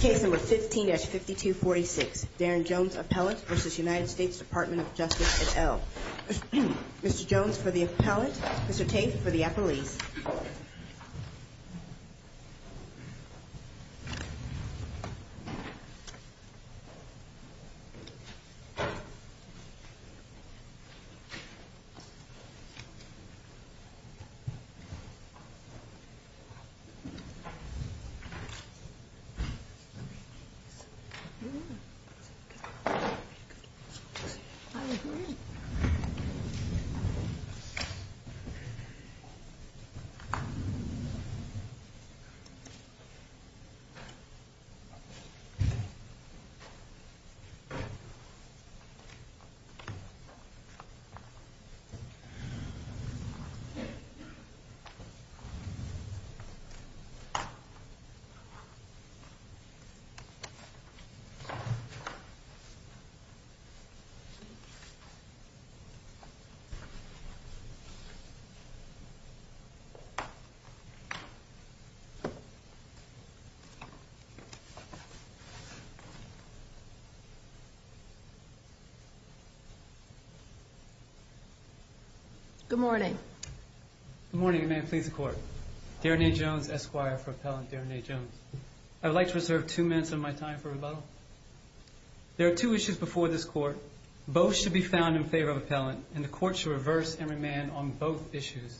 Case number 15-5246, Darren Jones appellate versus United States Department of Justice et al. Mr. Jones for the appellate, Mr. Tate for the appellees. Case number 15-5246, Darren Jones appellate versus United States Department of Justice et al. Good morning. Good morning, and may it please the Court. Darren A. Jones, Esquire for Appellant Darren A. Jones. I would like to reserve two minutes of my time for rebuttal. There are two issues before this Court. Both should be found in favor of appellant, and the Court should reverse and remand on both issues.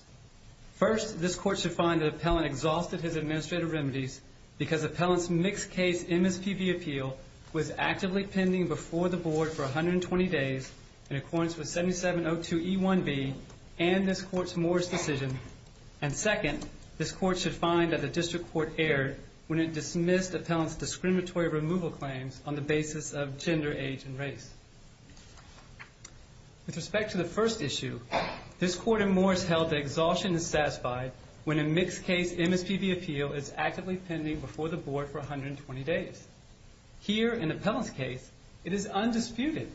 First, this Court should find that appellant exhausted his administrative remedies because appellant's mixed-case MSPB appeal was actively pending before the Board for 120 days in accordance with 7702E1B and this Court's Morris decision. And second, this Court should find that the District Court erred when it dismissed appellant's discriminatory removal claims on the basis of gender, age, and race. With respect to the first issue, this Court in Morris held that exhaustion is satisfied when a mixed-case MSPB appeal is actively pending before the Board for 120 days. Here, in appellant's case, it is undisputed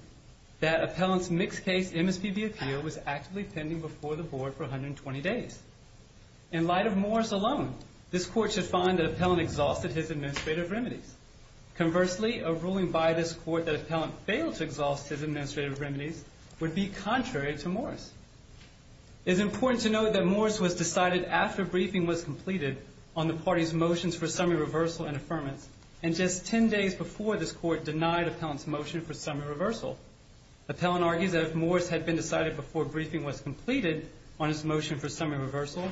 that appellant's mixed-case MSPB appeal was actively pending before the Board for 120 days. In light of Morris alone, this Court should find that appellant exhausted his administrative remedies. Conversely, a ruling by this Court that appellant failed to exhaust his administrative remedies would be contrary to Morris. It is important to note that Morris was decided after briefing was completed on the party's motions for summary reversal and affirmance and just 10 days before this Court denied appellant's motion for summary reversal. Appellant argues that if Morris had been decided before briefing was completed on his motion for summary reversal,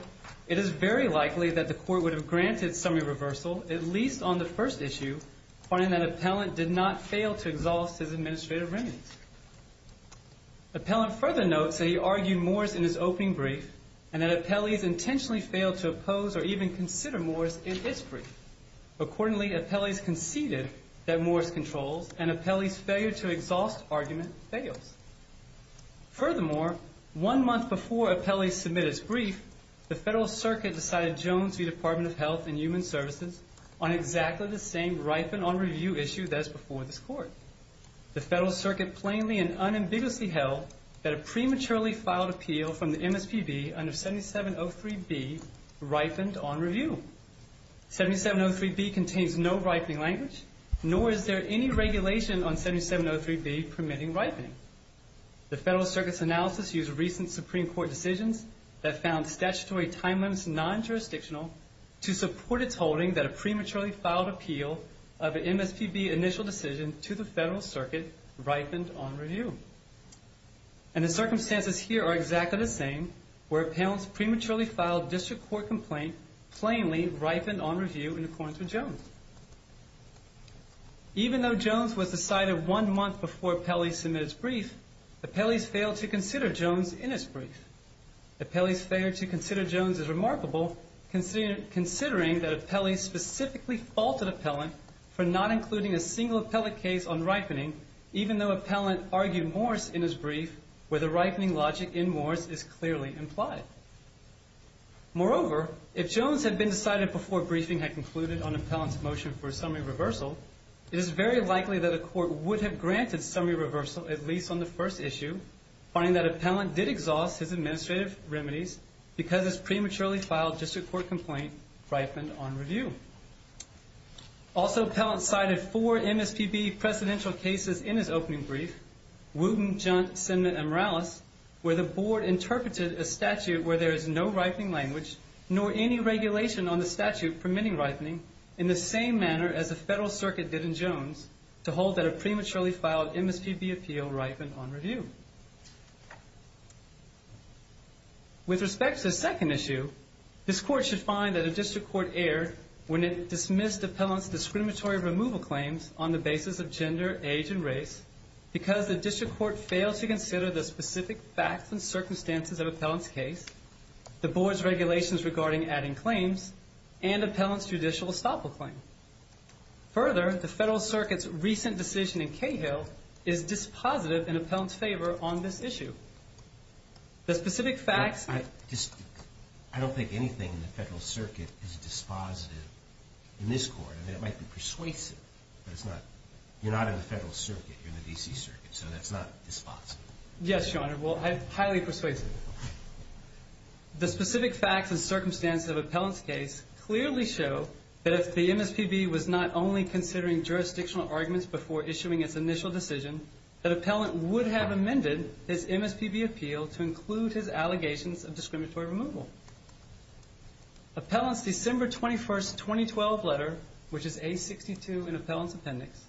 it is very likely that the Court would have granted summary reversal, at least on the first issue, finding that appellant did not fail to exhaust his administrative remedies. Appellant further notes that he argued Morris in his opening brief and that appellant intentionally failed to oppose or even consider Morris in his brief. Accordingly, appellant conceded that Morris controls and appellant's failure to exhaust argument fails. Furthermore, one month before appellant submitted his brief, the Federal Circuit decided Jones v. Department of Health and Human Services on exactly the same ripened-on-review issue that is before this Court. The Federal Circuit plainly and unambiguously held that a prematurely filed appeal from the MSPB under 7703B ripened-on-review. 7703B contains no ripening language, nor is there any regulation on 7703B permitting ripening. The Federal Circuit's analysis used recent Supreme Court decisions that found statutory time limits non-jurisdictional to support its holding that a prematurely filed appeal of an MSPB initial decision to the Federal Circuit ripened-on-review. And the circumstances here are exactly the same, where appellant's prematurely filed district court complaint plainly ripened-on-review in accordance with Jones. Even though Jones was decided one month before appellee submitted his brief, appellees failed to consider Jones in his brief. Appellee's failure to consider Jones is remarkable, considering that appellee specifically faulted appellant for not including a single appellate case on ripening, even though appellant argued Morse in his brief where the ripening logic in Morse is clearly implied. Moreover, if Jones had been decided before briefing had concluded on appellant's motion for a summary reversal, it is very likely that a court would have granted summary reversal, at least on the first issue, finding that appellant did exhaust his administrative remedies because his prematurely filed district court complaint ripened-on-review. Also, appellant cited four MSPB presidential cases in his opening brief, Wooten, Juntz, Sinma, and Morales, where the board interpreted a statute where there is no ripening language nor any regulation on the statute permitting ripening in the same manner as the Federal Circuit did in Jones to hold that a prematurely filed MSPB appeal ripened-on-review. With respect to the second issue, this court should find that a district court erred when it dismissed appellant's discriminatory removal claims on the basis of gender, age, and race because the district court failed to consider the specific facts and circumstances of appellant's case, the board's regulations regarding adding claims, and appellant's judicial estoppel claim. Further, the Federal Circuit's recent decision in Cahill is dispositive in appellant's favor on this issue. The specific facts... I don't think anything in the Federal Circuit is dispositive in this court. I mean, it might be persuasive, but it's not. You're not in the Federal Circuit. You're in the D.C. Circuit. So that's not dispositive. Yes, Your Honor. Well, highly persuasive. The specific facts and circumstances of appellant's case clearly show that if the MSPB was not only considering jurisdictional arguments before issuing its initial decision, that appellant would have amended his MSPB appeal to include his allegations of discriminatory removal. Appellant's December 21, 2012 letter, which is A62 in appellant's appendix,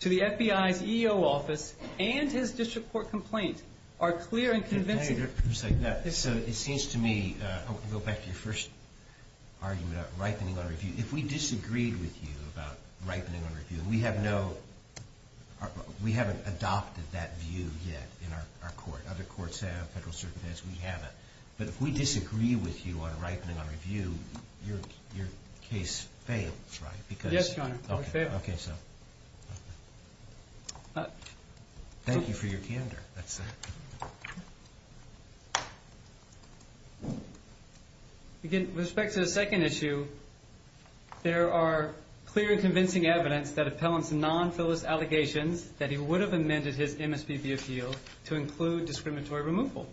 to the FBI's EO office and his district court complaint are clear and convincing. So it seems to me... I want to go back to your first argument about ripening on review. If we disagreed with you about ripening on review, and we have no... We haven't adopted that view yet in our court. Other courts have. Federal Circuit has. We haven't. But if we disagree with you on ripening on review, your case fails, right? Yes, Your Honor. It fails. Thank you for your candor. With respect to the second issue, there are clear and convincing evidence that appellant's non-fillist allegations that he would have amended his MSPB appeal to include discriminatory removal.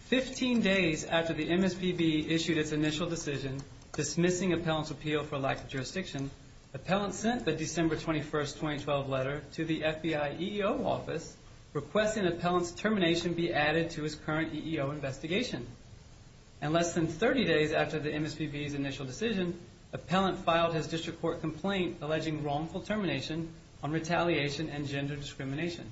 Fifteen days after the MSPB issued its initial decision dismissing appellant's appeal for lack of jurisdiction, appellant sent the December 21, 2012 letter to the FBI EO office requesting appellant's termination be added to his current EEO investigation. And less than 30 days after the MSPB's initial decision, appellant filed his district court complaint alleging wrongful termination on retaliation and gender discrimination.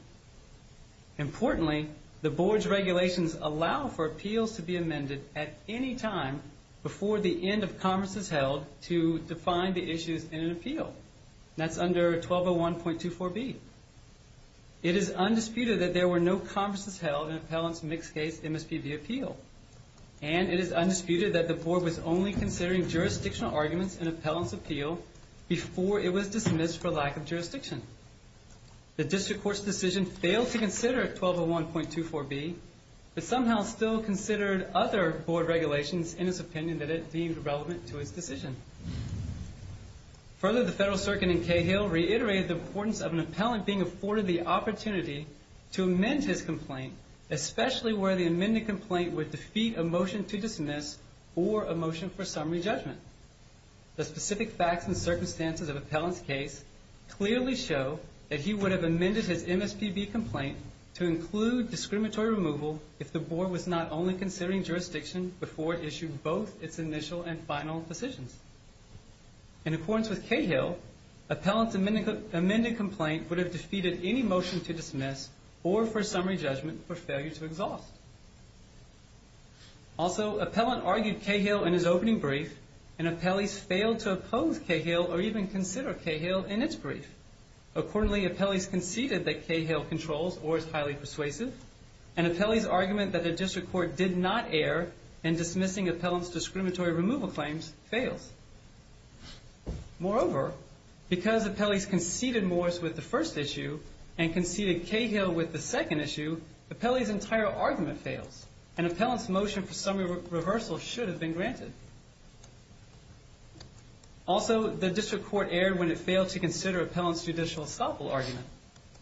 Importantly, the Board's regulations allow for appeals to be amended at any time before the end of Congress is held to define the issues in an appeal. That's under 1201.24b. It is undisputed that there were no conferences held in appellant's mixed-case MSPB appeal. And it is undisputed that the Board was only considering jurisdictional arguments in appellant's appeal before it was dismissed for lack of jurisdiction. The district court's decision failed to consider 1201.24b but somehow still considered other Board regulations in its opinion that it deemed relevant to its decision. Further, the Federal Circuit in Cahill reiterated the importance of an appellant being afforded the opportunity to amend his complaint especially where the amended complaint would defeat a motion to dismiss or a motion for summary judgment. The specific facts and circumstances of appellant's case clearly show that he would have amended his MSPB complaint to include discriminatory removal if the Board was not only considering jurisdiction before it issued both its initial and final decisions. In accordance with Cahill, appellant's amended complaint would have defeated any motion to dismiss or for summary judgment for failure to exhaust. Also, appellant argued Cahill in his opening brief and appellees failed to oppose Cahill or even consider Cahill in its brief. Accordingly, appellees conceded that Cahill controls or is highly persuasive and appellees' argument that a district court did not err in dismissing appellant's discriminatory removal claims fails. Moreover, because appellees conceded Morris with the first issue and conceded Cahill with the second issue, appellees' entire argument fails and appellant's motion for summary reversal should have been granted. Also, the district court erred when it failed to consider appellant's judicial estoppel argument.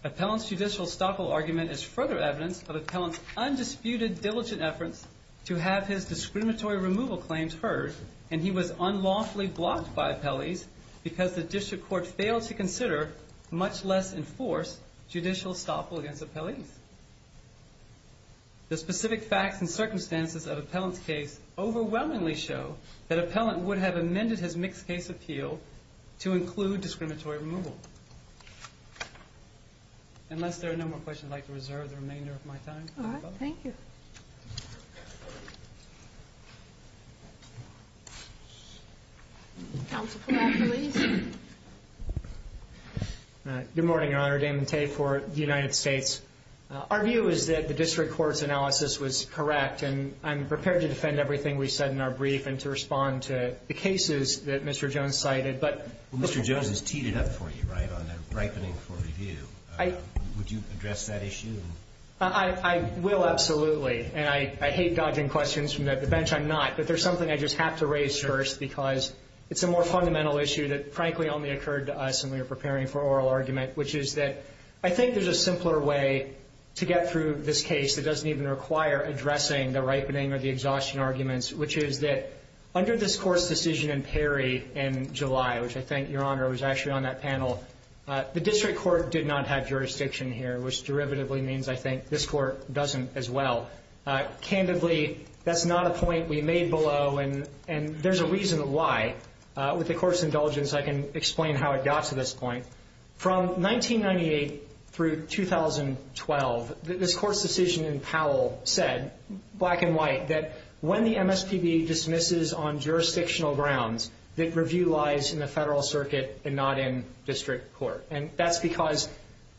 Appellant's judicial estoppel argument is further evidence of appellant's undisputed, diligent efforts to have his discriminatory removal claims heard and he was unlawfully blocked by appellees because the district court failed to consider, much less enforce, judicial estoppel against appellees. The specific facts and circumstances of appellant's case overwhelmingly show that appellant would have amended his mixed-case appeal to include discriminatory removal. Unless there are no more questions, I'd like to reserve the remainder of my time. All right. Thank you. Counsel Platt, please. Good morning, Your Honor. Damon Tate for the United States. Our view is that the district court's analysis was correct and I'm prepared to defend everything we said in our brief and to respond to the cases that Mr. Jones cited, but... Mr. Jones has teed it up for you, right, on the ripening for review. I... Would you address that issue? I will, absolutely. And I hate dodging questions from the bench. I'm not. But there's something I just have to raise first because it's a more fundamental issue that frankly only occurred to us when we were preparing for oral argument, which is that I think there's a simpler way to get through this case that doesn't even require addressing the ripening or the exhaustion arguments, which is that under this court's decision in Perry in July, which I think, Your Honor, was actually on that panel, the district court did not have jurisdiction here, which derivatively means, I think, this court doesn't as well. Candidly, that's not a point we made below and there's a reason why. With the court's indulgence, I can explain how it got to this point. From 1998 through 2012, this court's decision in Powell said, black and white, that when the MSPB dismisses on jurisdictional grounds that review lies in the federal circuit and not in district court. And that's because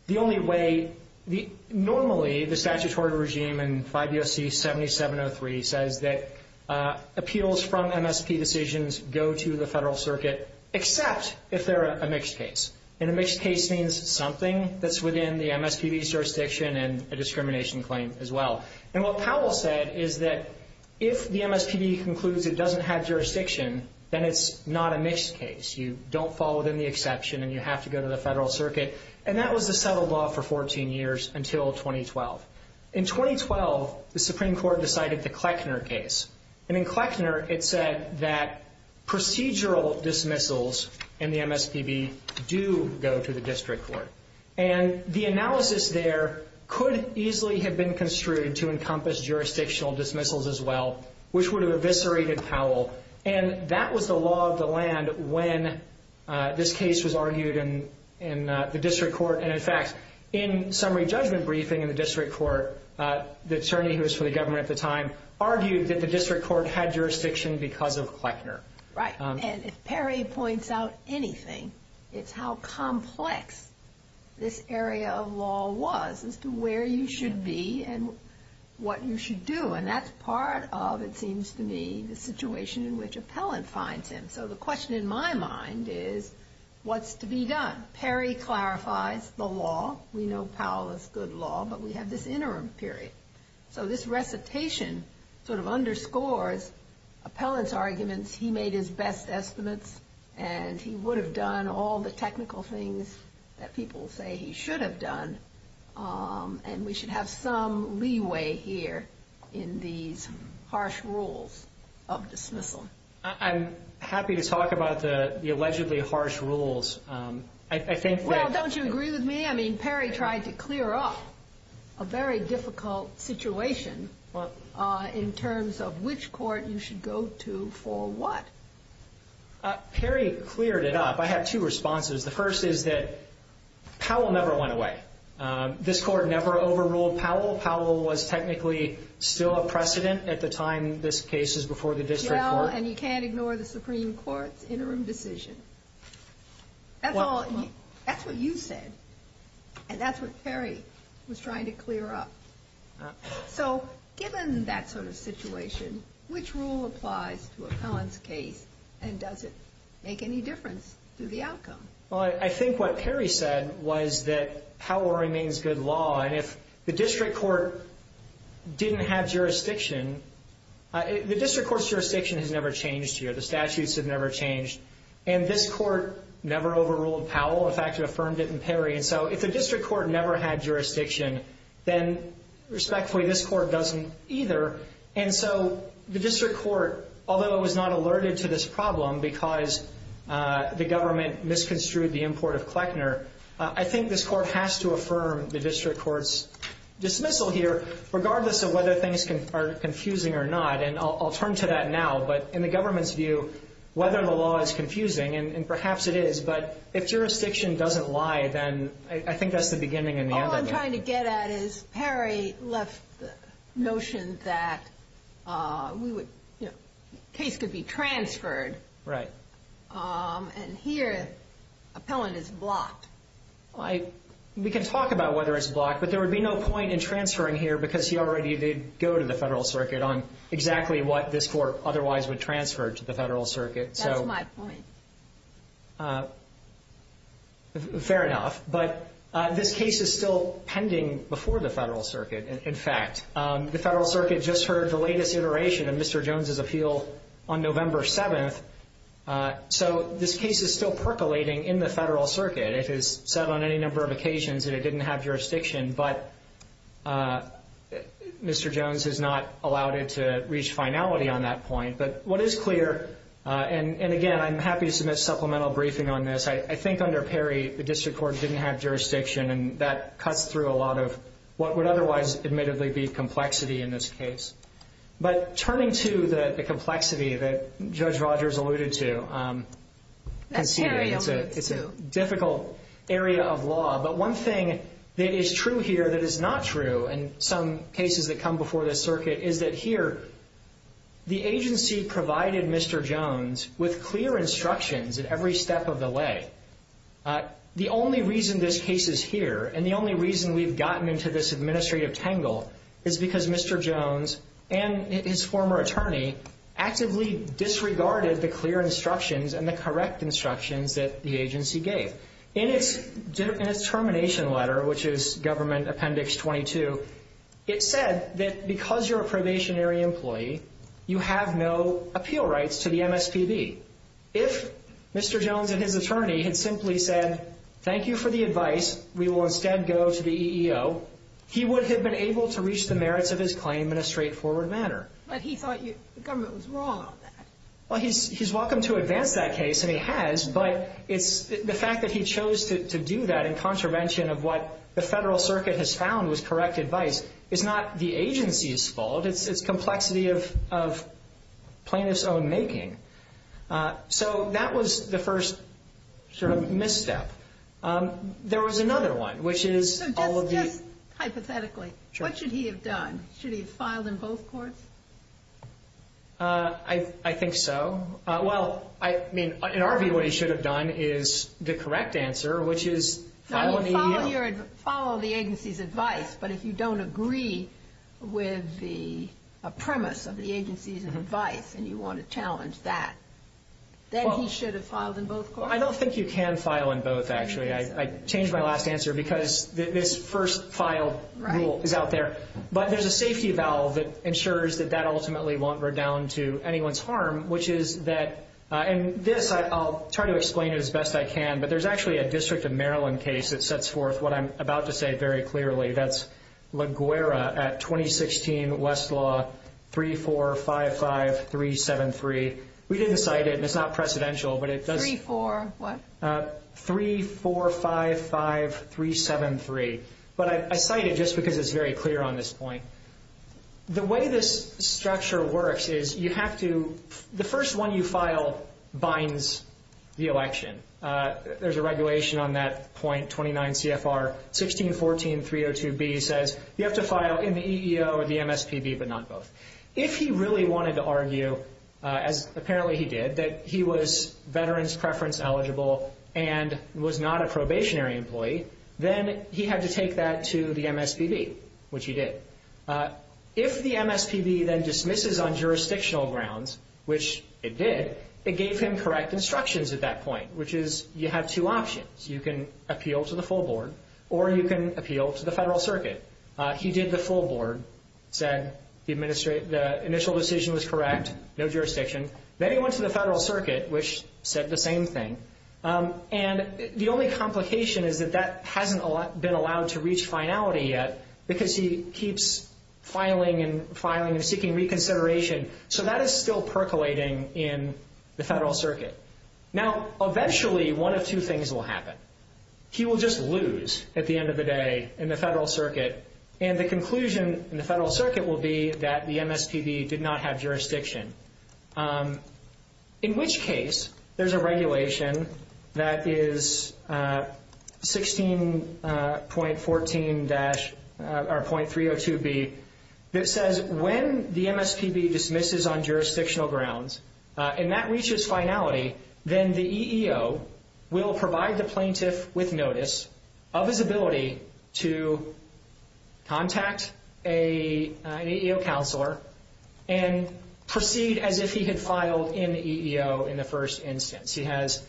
the only way... WSC 7703 says that appeals from MSP decisions go to the federal circuit except if they're a mixed case. And a mixed case means something that's within the MSPB's jurisdiction and a discrimination claim as well. And what Powell said is that if the MSPB concludes it doesn't have jurisdiction, then it's not a mixed case. You don't fall within the exception and you have to go to the federal circuit. And that was the settled law for 14 years until 2012. In 2012, the Supreme Court decided the Kleckner case. And in Kleckner, it said that procedural dismissals in the MSPB do go to the district court. And the analysis there could easily have been construed to encompass jurisdictional dismissals as well, which would have eviscerated Powell. And that was the law of the land when this case was argued in the district court. And in fact, in summary judgment briefing in the district court, the attorney who was for the government at the time argued that the district court had jurisdiction because of Kleckner. Right. And if Perry points out anything, it's how complex this area of law was as to where you should be and what you should do. And that's part of, it seems to me, the situation in which Appellant finds him. So the question in my mind is, what's to be done? Perry clarifies the law. We know Powell is good law, but we have this interim period. So this recitation sort of underscores Appellant's arguments. He made his best estimates, and he would have done all the technical things that people say he should have done. And we should have some leeway here in these harsh rules of dismissal. I'm happy to talk about the allegedly harsh rules. Well, don't you agree with me? I mean, Perry tried to clear up a very difficult situation in terms of which court you should go to for what. Perry cleared it up. I have two responses. The first is that Powell never went away. This Court never overruled Powell. Powell was technically still a precedent at the time this case is before the district court. Well, and you can't ignore the Supreme Court's interim decision. That's what you said, and that's what Perry was trying to clear up. So given that sort of situation, which rule applies to Appellant's case, and does it make any difference to the outcome? Well, I think what Perry said was that Powell remains good law, and if the district court didn't have jurisdiction, the district court's jurisdiction has never changed here. The statutes have never changed, and this Court never overruled Powell. In fact, it affirmed it in Perry, and so if the district court never had jurisdiction, then respectfully this Court doesn't either, and so the district court, although it was not alerted to this problem because the government misconstrued the import of Kleckner, I think this Court has to affirm the district court's dismissal here, regardless of whether things are confusing or not, and I'll turn to that now, but in the government's view, whether the law is confusing, and perhaps it is, but if jurisdiction doesn't lie, then I think that's the beginning and the end of it. All I'm trying to get at is Perry left the notion that the case could be transferred, We can talk about whether it's blocked, but there would be no point in transferring here because he already did go to the Federal Circuit on exactly what this Court otherwise would transfer to the Federal Circuit. That's my point. Fair enough. But this case is still pending before the Federal Circuit, in fact. The Federal Circuit just heard the latest iteration of Mr. Jones' appeal on November 7th, so this case is still percolating in the Federal Circuit. It has said on any number of occasions that it didn't have jurisdiction, but Mr. Jones has not allowed it to reach finality on that point. But what is clear, and again, I'm happy to submit a supplemental briefing on this, I think under Perry the district court didn't have jurisdiction, and that cuts through a lot of what would otherwise admittedly be complexity in this case. But turning to the complexity that Judge Rogers alluded to, conceding, it's a difficult area of law. But one thing that is true here that is not true in some cases that come before this circuit is that here the agency provided Mr. Jones with clear instructions at every step of the way. The only reason this case is here, and the only reason we've gotten into this administrative tangle is because Mr. Jones and his former attorney actively disregarded the clear instructions and the correct instructions that the agency gave. In its termination letter, which is Government Appendix 22, it said that because you're a probationary employee, you have no appeal rights to the MSPB. If Mr. Jones and his attorney had simply said, thank you for the advice, we will instead go to the EEO, he would have been able to reach the merits of his claim in a straightforward manner. But he thought the government was wrong on that. Well, he's welcome to advance that case, and he has, but the fact that he chose to do that in contravention of what the Federal Circuit has found was correct advice is not the agency's fault. It's complexity of plaintiff's own making. So that was the first sort of misstep. There was another one, which is all of the... So just hypothetically, what should he have done? Should he have filed in both courts? I think so. Well, I mean, in our view, what he should have done is the correct answer, which is follow the EEO. Follow the agency's advice, but if you don't agree with the premise of the agency's advice and you want to challenge that, then he should have filed in both courts? I don't think you can file in both, actually. I changed my last answer because this first filed rule is out there. But there's a safety valve that ensures that that ultimately won't redound to anyone's harm, which is that... And this, I'll try to explain it as best I can, but there's actually a District of Maryland case that sets forth what I'm about to say very clearly. That's LaGuerra at 2016 Westlaw 3455-373. We didn't cite it, and it's not precedential, but it does... 3-4 what? 3-455-373. But I cite it just because it's very clear on this point. The way this structure works is you have to... The first one you file binds the election. There's a regulation on that point, 29 CFR 1614-302B says you have to file in the EEO or the MSPB, but not both. If he really wanted to argue, as apparently he did, that he was veterans preference eligible and was not a probationary employee, then he had to take that to the MSPB, which he did. If the MSPB then dismisses on jurisdictional grounds, which it did, it gave him correct instructions at that point, which is you have two options. You can appeal to the full board, or you can appeal to the federal circuit. He did the full board, said the initial decision was correct, no jurisdiction. Then he went to the federal circuit, which said the same thing. The only complication is that that hasn't been allowed to reach finality yet because he keeps filing and seeking reconsideration. So that is still percolating in the federal circuit. Now, eventually, one of two things will happen. He will just lose at the end of the day in the federal circuit, and the conclusion in the federal circuit will be that the MSPB did not have jurisdiction, in which case there's a regulation that is 16.14- or .302B that says when the MSPB dismisses on jurisdictional grounds and that reaches finality, then the EEO will provide the plaintiff with notice of his ability to contact an EEO counselor and proceed as if he had filed in the EEO in the first instance. He has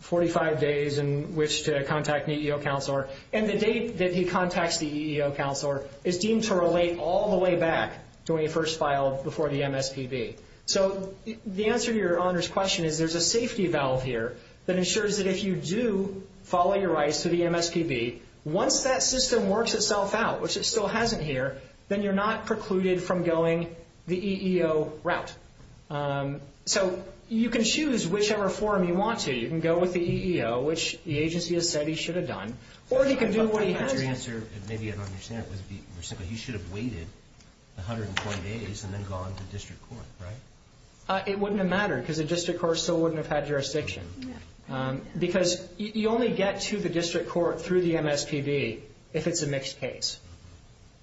45 days in which to contact an EEO counselor, and the date that he contacts the EEO counselor is deemed to relate all the way back to when he first filed before the MSPB. So the answer to Your Honor's question is there's a safety valve here that ensures that if you do follow your rights to the MSPB, once that system works itself out, which it still hasn't here, then you're not precluded from going the EEO route. So you can choose whichever form you want to. You can go with the EEO, which the agency has said he should have done, or he can do what he has. Your answer, and maybe you don't understand it, you should have waited 101 days and then gone to district court, right? It wouldn't have mattered, because the district court still wouldn't have had jurisdiction. Because you only get to the district court through the MSPB if it's a mixed case.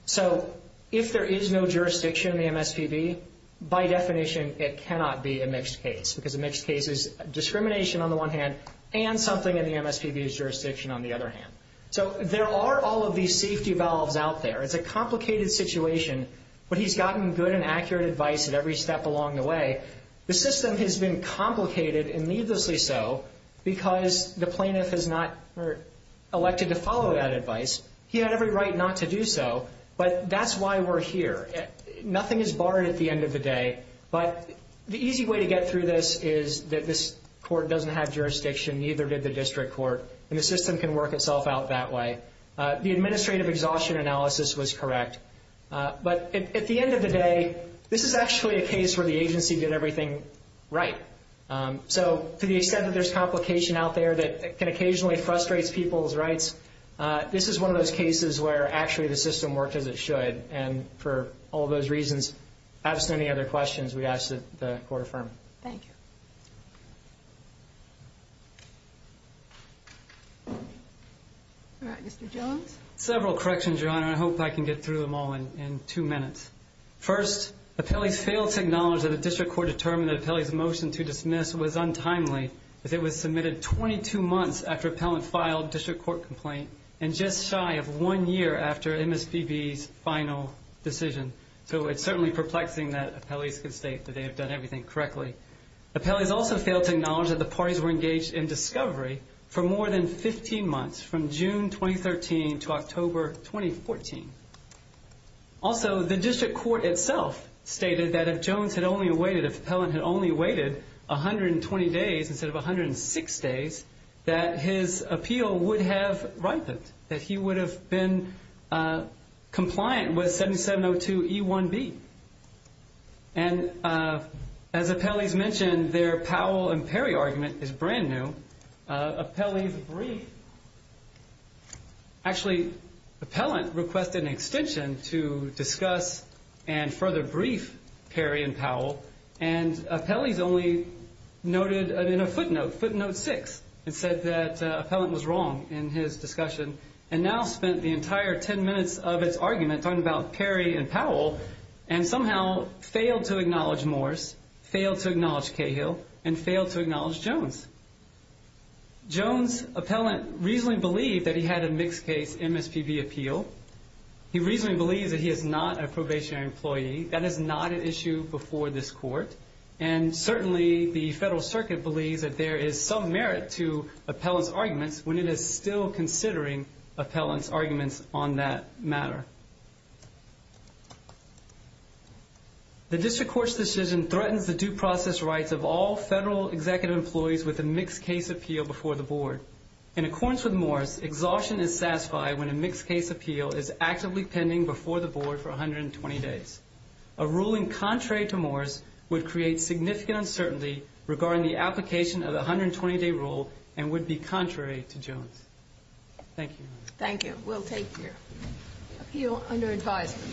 So if there is no jurisdiction in the MSPB, by definition it cannot be a mixed case, because a mixed case is discrimination on the one hand and something in the MSPB's jurisdiction on the other hand. So there are all of these safety valves out there. It's a complicated situation, but he's gotten good and accurate advice at every step along the way. The system has been complicated, and needlessly so, because the plaintiff has not elected to follow that advice. He had every right not to do so, but that's why we're here. Nothing is barred at the end of the day, but the easy way to get through this is that this court doesn't have jurisdiction, neither did the district court, and the system can work itself out that way. The administrative exhaustion analysis was correct. But at the end of the day, this is actually a case where the agency did everything right. that can occasionally frustrate people's rights, this is one of those cases where actually the system worked as it should, and for all those reasons, absent any other questions, we ask that the court affirm. Thank you. All right, Mr. Jones? Several corrections, Your Honor, and I hope I can get through them all in two minutes. First, appellees failed to acknowledge that the district court determined that an appellee's motion to dismiss was untimely, as it was submitted 22 months after appellant filed district court complaint, and just shy of one year after MSPB's final decision. So it's certainly perplexing that appellees can state that they have done everything correctly. Appellees also failed to acknowledge that the parties were engaged in discovery for more than 15 months, from June 2013 to October 2014. Also, the district court itself stated that if Jones had only waited, if appellant had only waited 120 days instead of 106 days, that his appeal would have ripened, that he would have been compliant with 7702E1B. And as appellees mentioned, their Powell and Perry argument is brand new. Appellees' brief... Actually, appellant requested an extension to discuss and further brief Perry and Powell, and appellees only noted in a footnote, footnote 6, and said that appellant was wrong in his discussion, and now spent the entire 10 minutes of its argument talking about Perry and Powell and somehow failed to acknowledge Morris, failed to acknowledge Cahill, and failed to acknowledge Jones. Jones' appellant reasonably believed that he had a mixed-case MSPB appeal. He reasonably believes that he is not a probationary employee. That is not an issue before this court, and certainly the federal circuit believes that there is some merit to appellant's arguments when it is still considering appellant's arguments on that matter. The district court's decision threatens the due process rights of all federal executive employees with a mixed-case appeal before the board. In accordance with Morris, exhaustion is satisfied when a mixed-case appeal is actively pending before the board for 120 days. A ruling contrary to Morris would create significant uncertainty regarding the application of the 120-day rule and would be contrary to Jones. Thank you. Thank you. We'll take your appeal under advisement.